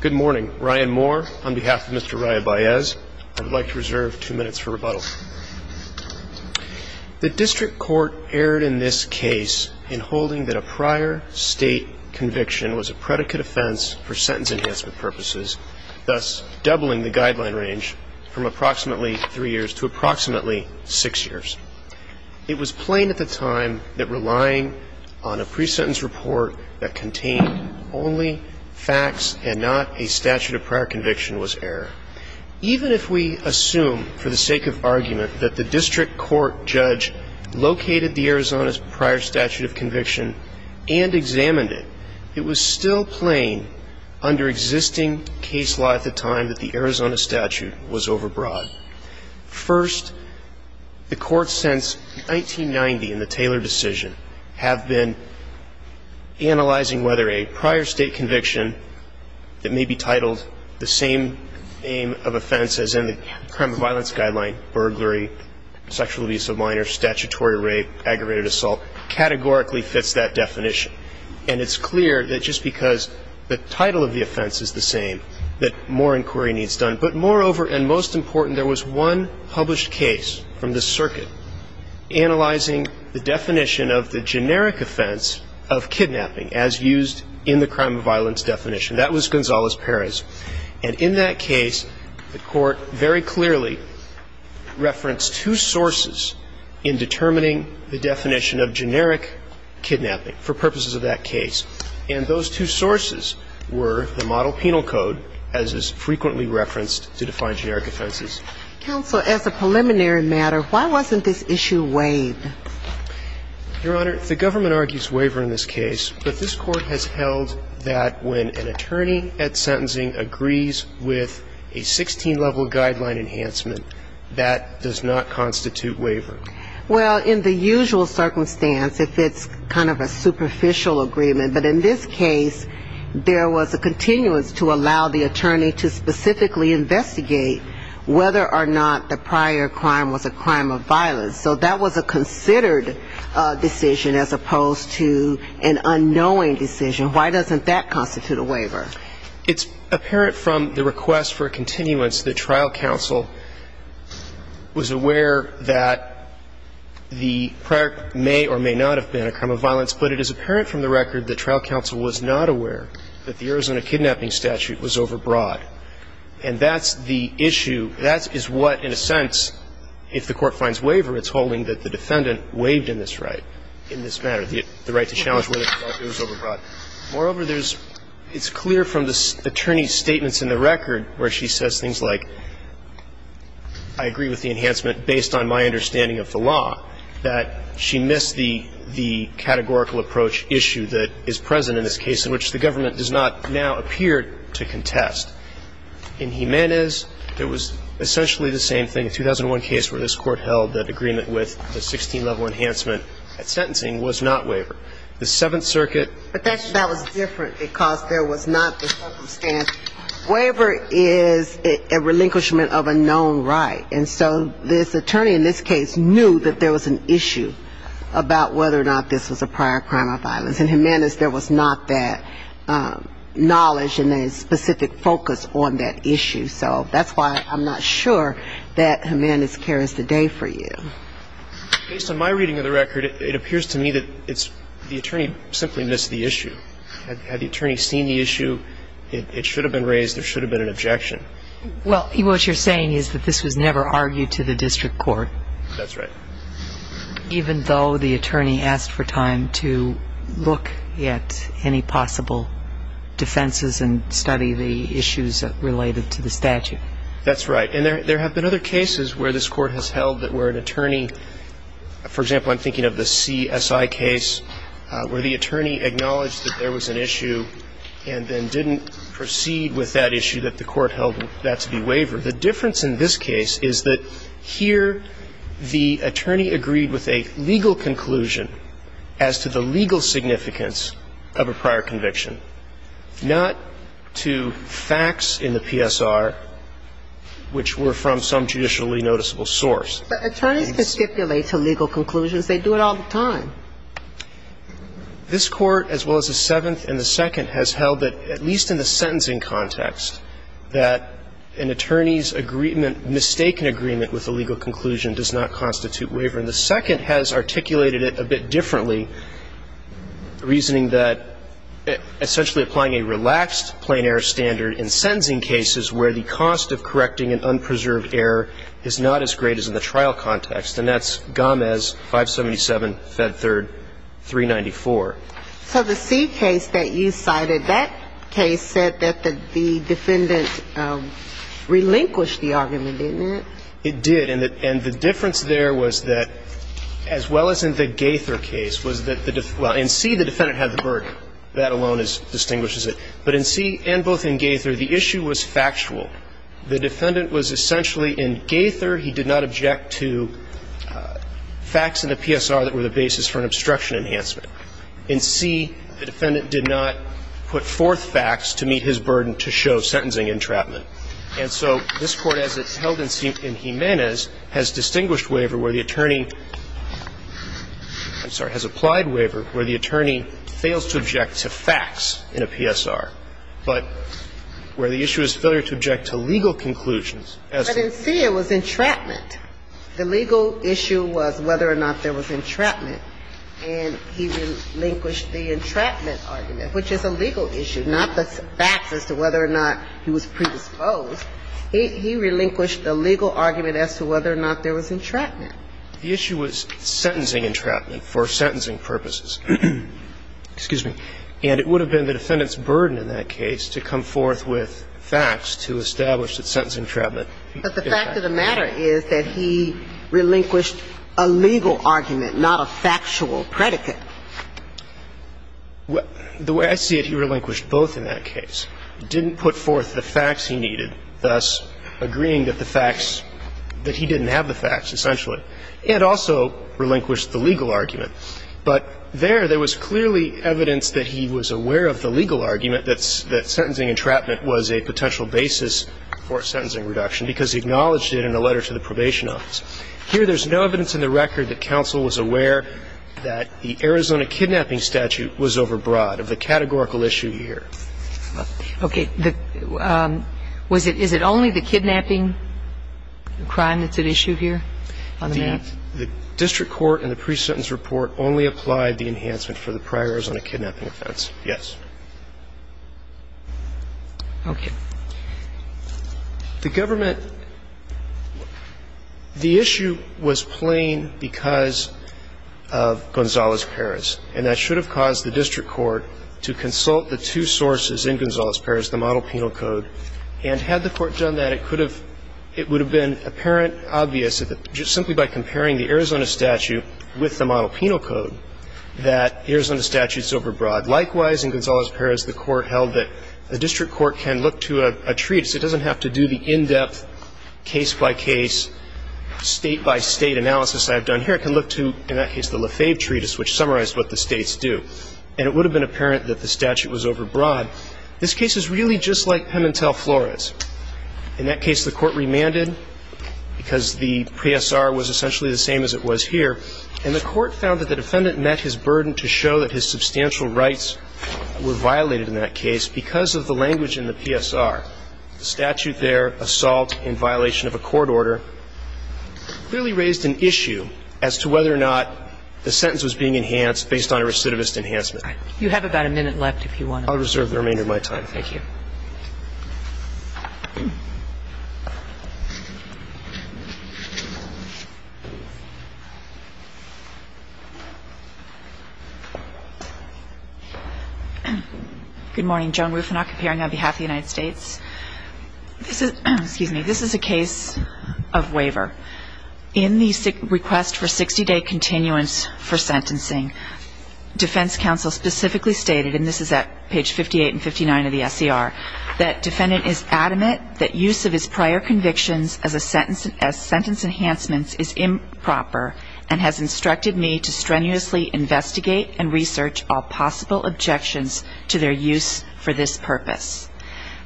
Good morning. Ryan Moore on behalf of Mr. Raya-Baez. I'd like to reserve two minutes for rebuttal. The district court erred in this case in holding that a prior state conviction was a predicate offense for sentence enhancement purposes, thus doubling the guideline range from approximately three years to approximately six years. It was plain at the time that relying on a pre-sentence report that contained only facts and not a statute of prior conviction was error. Even if we assume for the sake of argument that the district court judge located the Arizona's prior statute of conviction and examined it, it was still plain under existing case law at the time that the Arizona statute was overbroad. First, the courts since 1990 in the Taylor decision have been analyzing whether a prior state conviction that may be titled the same name of offense as in the Crime and Violence Guideline, burglary, sexual abuse of minors, statutory rape, aggravated assault, categorically fits that definition. And it's clear that just because the title of the offense is the same that more inquiry needs done. But moreover and most important, there was one published case from the circuit analyzing the definition of the generic offense of kidnapping as used in the crime and violence definition. That was Gonzales-Perez. And in that case, the court very clearly referenced two sources in determining the definition of generic kidnapping for purposes of that case. And those two sources were the model penal code as is frequently referenced to define generic offenses. Counsel, as a preliminary matter, why wasn't this issue weighed? Your Honor, the government argues waiver in this case. But this Court has held that when an attorney at sentencing agrees with a 16-level guideline enhancement, that does not constitute waiver. Well, in the usual circumstance, if it's kind of a superficial agreement. But in this case, there was a continuance to allow the attorney to specifically investigate whether or not the prior crime was a crime of violence. So that was a considered decision as opposed to an unknowing decision. It's apparent from the request for a continuance that trial counsel was aware that the prior may or may not have been a crime of violence. But it is apparent from the record that trial counsel was not aware that the Arizona kidnapping statute was overbroad. And that's the issue. That is what, in a sense, if the Court finds waiver, it's holding that the defendant waived in this right, in this matter, the right to challenge whether or not it was overbroad. Moreover, there's – it's clear from the attorney's statements in the record where she says things like, I agree with the enhancement based on my understanding of the law, that she missed the categorical approach issue that is present in this case in which the government does not now appear to contest. In Jimenez, it was essentially the same thing. The 2001 case where this Court held that agreement with the 16-level enhancement at sentencing was not waiver. The Seventh Circuit – But that was different because there was not the circumstance. Waiver is a relinquishment of a known right. And so this attorney in this case knew that there was an issue about whether or not this was a prior crime of violence. In Jimenez, there was not that knowledge and a specific focus on that issue. So that's why I'm not sure that Jimenez carries the day for you. Based on my reading of the record, it appears to me that it's – the attorney simply missed the issue. Had the attorney seen the issue, it should have been raised, there should have been an objection. Well, what you're saying is that this was never argued to the district court. That's right. Even though the attorney asked for time to look at any possible defenses and study the issues related to the statute. That's right. And there have been other cases where this Court has held that where an attorney – for example, I'm thinking of the CSI case where the attorney acknowledged that there was an issue and then didn't proceed with that issue, that the Court held that to be waiver. The difference in this case is that here the attorney agreed with a legal conclusion as to the legal significance of a prior conviction, not to facts in the PSR, which were from some judicially noticeable source. But attorneys can stipulate to legal conclusions. They do it all the time. This Court, as well as the Seventh and the Second, has held that, at least in the sentencing context, that an attorney's agreement – mistaken agreement with a legal conclusion does not constitute waiver. And the Second has articulated it a bit differently, reasoning that essentially applying a relaxed plain error standard in sentencing cases where the cost of correcting an unpreserved error is not as great as in the trial context. And that's Gomez 577, Fed Third 394. So the C case that you cited, that case said that the defendant relinquished the argument, didn't it? It did. And the difference there was that, as well as in the Gaither case, was that the – well, in C the defendant had the burden. That alone distinguishes it. But in C and both in Gaither, the issue was factual. The defendant was essentially in Gaither. He did not object to facts in the PSR that were the basis for an obstruction enhancement. In C, the defendant did not put forth facts to meet his burden to show sentencing entrapment. And so this Court, as it's held in Jimenez, has distinguished waiver where the attorney – I'm sorry – has applied waiver where the attorney fails to object to facts in a PSR, but where the issue is failure to object to legal conclusions as to whether or not there was entrapment. But in C it was entrapment. The legal issue was whether or not there was entrapment, and he relinquished the entrapment argument, which is a legal issue, not the facts as to whether or not he was predisposed. He relinquished the legal argument as to whether or not there was entrapment. The issue was sentencing entrapment for sentencing purposes. Excuse me. And it would have been the defendant's burden in that case to come forth with facts to establish that sentencing entrapment. But the fact of the matter is that he relinquished a legal argument, not a factual predicate. The way I see it, he relinquished both in that case. He didn't put forth the facts he needed, thus agreeing that the facts – that he didn't have the facts, essentially. He had also relinquished the legal argument. But there, there was clearly evidence that he was aware of the legal argument that sentencing entrapment was a potential basis for a sentencing reduction because he acknowledged it in a letter to the Probation Office. Here, there's no evidence in the record that counsel was aware that the Arizona kidnapping statute was overbroad of the categorical issue here. Okay. Was it – is it only the kidnapping crime that's at issue here on the map? The district court in the pre-sentence report only applied the enhancement for the prior Arizona kidnapping offense, yes. Okay. The government – the issue was plain because of Gonzalez-Perez. And that should have caused the district court to consult the two sources in Gonzalez-Perez, the model penal code. And had the court done that, it could have – it would have been apparent, obvious, just simply by comparing the Arizona statute with the model penal code, that Arizona statute's overbroad. Likewise, in Gonzalez-Perez, the court held that the district court can look to a treatise. It doesn't have to do the in-depth, case-by-case, State-by-State analysis I have done here. It can look to, in that case, the Lefebvre treatise, which summarized what the states do. And it would have been apparent that the statute was overbroad. This case is really just like Pimentel-Flores. In that case, the court remanded because the PSR was essentially the same as it was here. And the court found that the defendant met his burden to show that his substantial rights were violated in that case because of the language in the PSR. The statute there, assault in violation of a court order, clearly raised an issue as to whether or not the sentence was being enhanced based on a recidivist enhancement. All right. You have about a minute left if you want to. I'll reserve the remainder of my time. Thank you. Good morning. Joan Rufinock, appearing on behalf of the United States. This is a case of waiver. In the request for 60-day continuance for sentencing, defense counsel specifically stated, and this is at page 58 and 59 of the SCR, that defendant is adamant that use of his prior convictions as sentence enhancements is improper and has instructed me to strenuously investigate and research all possible objections to their use for this purpose.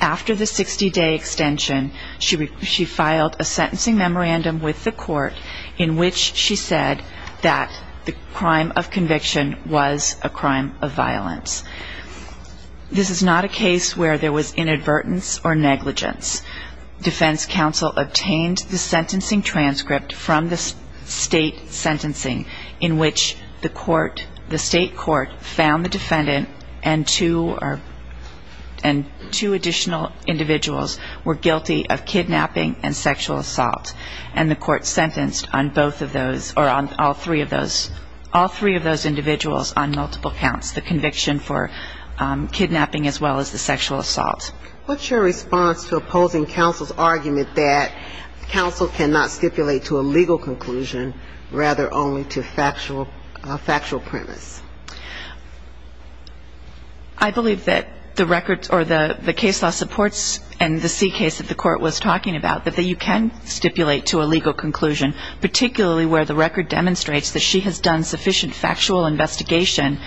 After the 60-day extension, she filed a sentencing memorandum with the court in which she said that the crime of conviction was a crime of violence. This is not a case where there was inadvertence or negligence. Defense counsel obtained the sentencing transcript from the state sentencing in which the court, the state court, found the defendant and two additional individuals were guilty of kidnapping and sexual assault, and the court sentenced on both of those, or on all three of those, all three of those individuals on multiple counts, the conviction for kidnapping as well as the sexual assault. What's your response to opposing counsel's argument that counsel cannot stipulate to a legal conclusion, rather only to factual premise? I believe that the records or the case law supports and the C case that the court was talking about, that you can stipulate to a legal conclusion, particularly where the record demonstrates that she has done sufficient factual investigation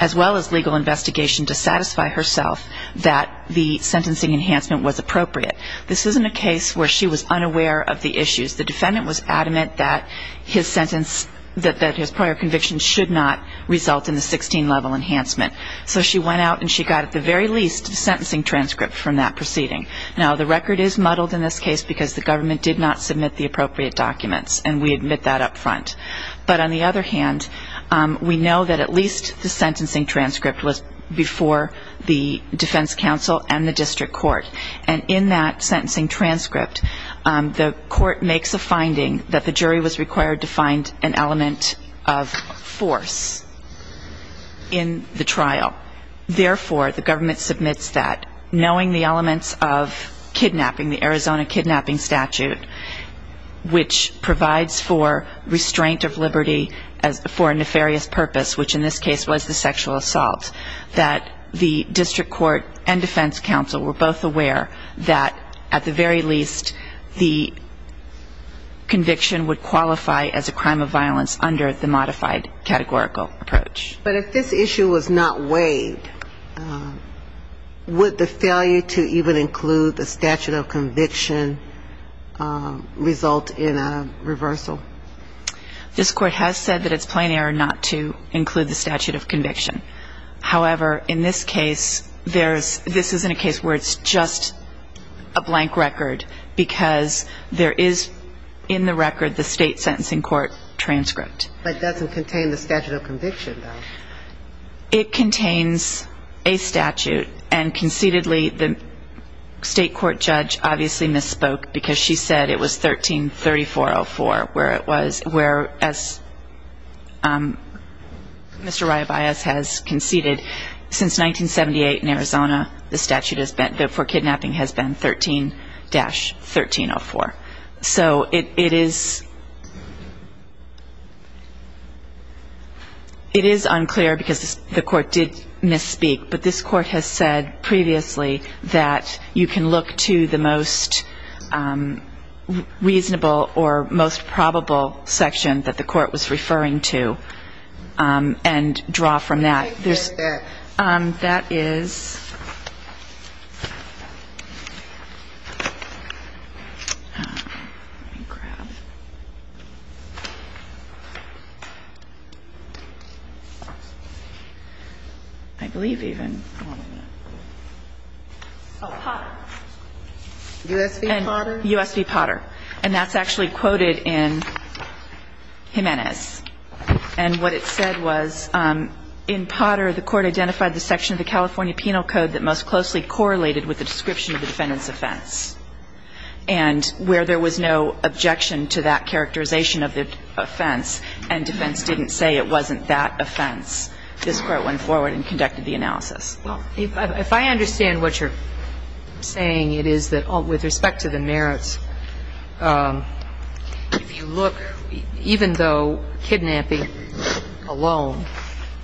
as well as legal investigation to satisfy herself that the sentencing enhancement was appropriate. This isn't a case where she was unaware of the issues. The defendant was adamant that his prior conviction should not result in the 16-level enhancement. So she went out and she got at the very least the sentencing transcript from that proceeding. Now, the record is muddled in this case because the government did not submit the appropriate documents, and we admit that up front. But on the other hand, we know that at least the sentencing transcript was before the defense counsel and the district court, and in that sentencing transcript, the court makes a finding that the jury was required to find an element of force in the trial. Therefore, the government submits that, knowing the elements of kidnapping, the Arizona kidnapping statute, which provides for restraint of liberty for a nefarious purpose, which in this case was the sexual assault, that the district court and defense counsel were both aware that at the very least the conviction would qualify as a crime of violence under the modified categorical approach. But if this issue was not waived, would the failure to even include the statute of conviction in the sentence result in a reversal? This Court has said that it's plain error not to include the statute of conviction. However, in this case, this isn't a case where it's just a blank record, because there is in the record the state sentencing court transcript. But it doesn't contain the statute of conviction, though. It contains a statute, and concededly, the state court judge obviously misspoke, because she said it was 13-3404, where, as Mr. Rayabias has conceded, since 1978 in Arizona, the statute for kidnapping has been 13-1304. And it's unclear, because the Court did misspeak, but this Court has said previously that you can look to the most reasonable or most probable section that the Court was referring to and draw from that. That is... I believe even... Oh, Potter. U.S. v. Potter? U.S. v. Potter. And that's actually quoted in Jimenez. And what it said was, in Potter, the Court identified the section of the California Penal Code that most closely correlated with the description of the defendant's offense, and defense didn't say it wasn't that offense. This Court went forward and conducted the analysis. Well, if I understand what you're saying, it is that with respect to the merits, if you look, even though kidnapping alone,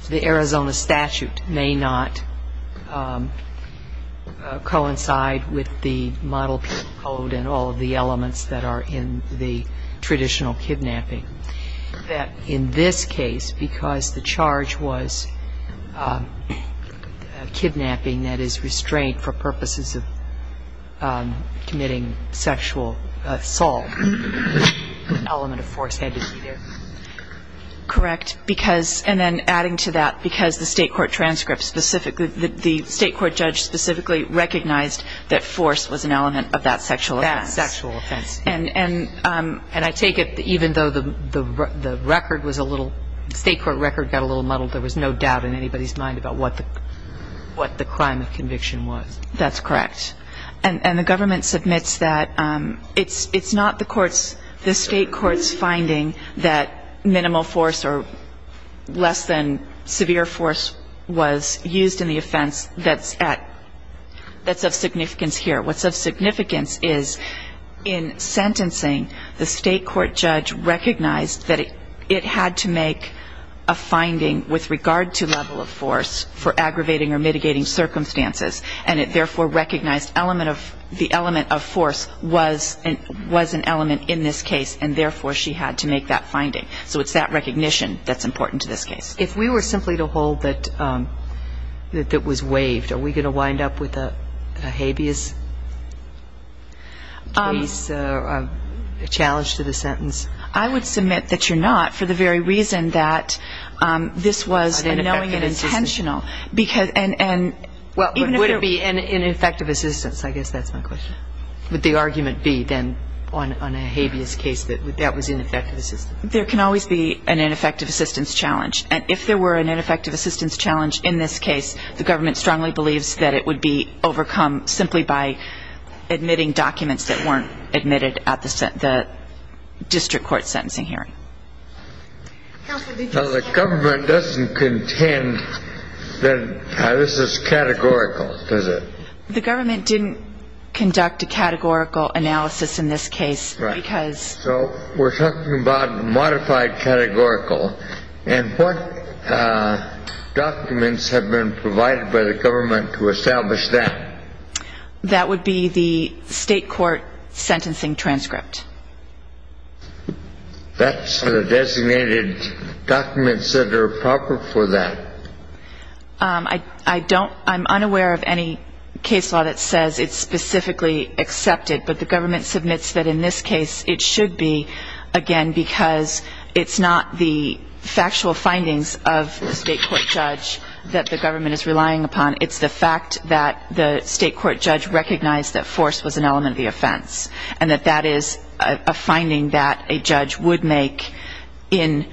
the Arizona statute may not coincide with the model code and all of the elements that are in the traditional kidnapping, that in this case, because the charge was kidnapping, that is, restraint for purposes of committing sexual assault, the element of force had to be there? Correct. And then adding to that, because the State Court transcript specifically, the State Court judge specifically recognized that force was an element of that sexual offense. And I take it, even though the record was a little, the State Court record got a little muddled, there was no doubt in anybody's mind about what the crime of conviction was? That's correct. And the government submits that. It's not the court's, the State Court's finding that minimal force or less than severe force was used in the offense that's at, that's of significance here. What's of significance is in sentencing, the State Court judge recognized that it had to make a finding with regard to level of force for aggravating or mitigating circumstances, and it therefore recognized the element of force was an element in this case, and therefore she had to make that finding. So it's that recognition that's important to this case. If we were simply to hold that it was waived, are we going to wind up with a habeas case, a challenge to the sentence? I would submit that you're not, for the very reason that this was a knowing and intentional. Would it be an ineffective assistance? I guess that's my question. Would the argument be then on a habeas case that that was ineffective assistance? There can always be an ineffective assistance challenge. And if there were an ineffective assistance challenge in this case, the government strongly believes that it would be overcome simply by admitting documents that weren't admitted at the district court sentencing hearing. Now the government doesn't contend that this is categorical, does it? The government didn't conduct a categorical analysis in this case because... Right. So we're talking about modified categorical. And what documents have been provided by the government to establish that? That would be the state court sentencing transcript. That's the designated documents that are proper for that. I'm unaware of any case law that says it's specifically accepted, but the government submits that in this case it should be, again, because it's not the factual findings of the state court judge that the government is relying upon. It's the fact that the state court judge recognized that force was an element of the offense and that that is a finding that a judge would make in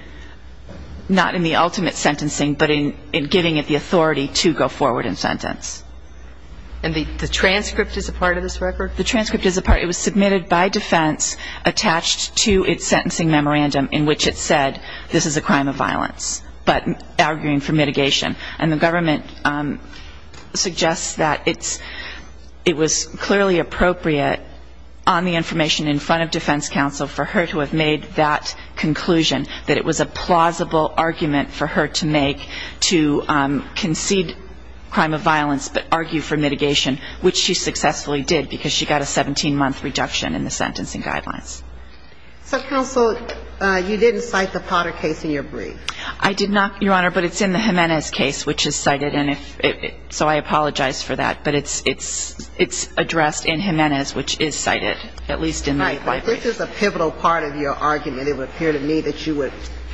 not in the ultimate sentencing, but in giving it the authority to go forward in sentence. And the transcript is a part of this record? The transcript is a part, it was submitted by defense attached to its sentencing memorandum in which it said this is a crime of violence, but arguing for mitigation. And the government suggests that it was clearly appropriate on the information in front of defense counsel for her to have made that conclusion, that it was a plausible argument for her to make to concede crime of violence but argue for mitigation, which she successfully did because she got a 17-month reduction in the sentencing guidelines. So, counsel, you didn't cite the Potter case in your brief. I did not, Your Honor, but it's in the Jimenez case, which is cited, and so I apologize for that, but it's addressed in Jimenez, which is cited, at least in my brief. Right, but this is a pivotal part of your argument. It would appear to me that you would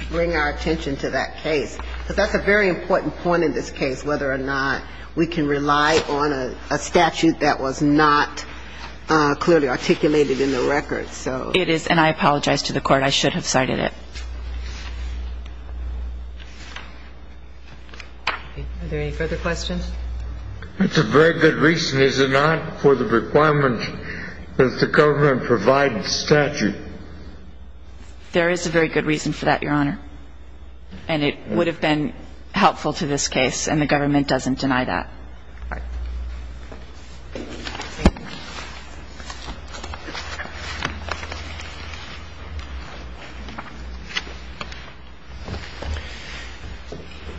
bring our attention to that case, because that's a very important point in this case, whether or not we can rely on a statute that was not clearly articulated in the record, so. It is, and I apologize to the Court. I should have cited it. Are there any further questions? That's a very good reason, is it not, for the requirement that the government provide the statute? There is a very good reason for that, Your Honor. And it would have been helpful to this case, and the government doesn't deny that. All right. Thank you.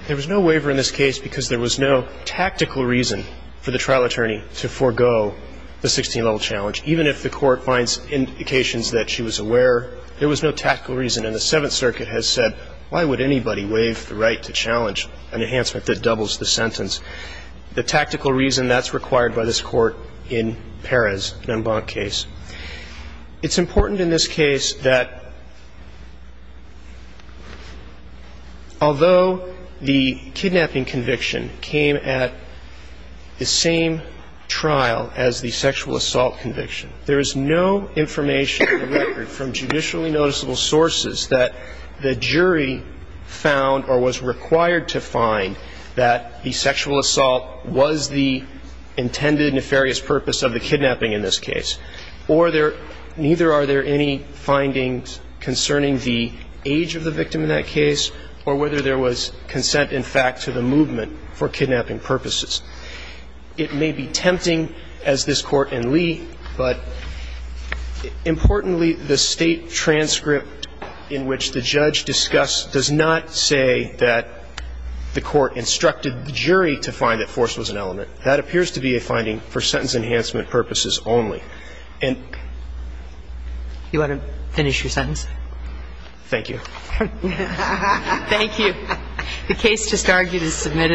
There was no waiver in this case because there was no tactical reason for the trial attorney to forego the 16-level challenge. Even if the Court finds indications that she was aware, there was no tactical reason. And the Seventh Circuit has said, why would anybody waive the right to challenge an enhancement that doubles the sentence? The tactical reason, that's required by this Court in Perez-Numbank case. It's important in this case that although the kidnapping conviction came at the same trial as the sexual assault conviction, there is no information in the record from judicially noticeable sources that the jury found or was required to find that the sexual assault was the intended nefarious purpose of the kidnapping in this case. Or there – neither are there any findings concerning the age of the victim in that case or whether there was consent, in fact, to the movement for kidnapping purposes. It may be tempting, as this Court in Lee, but importantly, the State transcript in which the judge discussed does not say that the Court instructed the jury to find that force was an element. That appears to be a finding for sentence enhancement purposes only. And – Do you want to finish your sentence? Thank you. Thank you. The case just argued is submitted.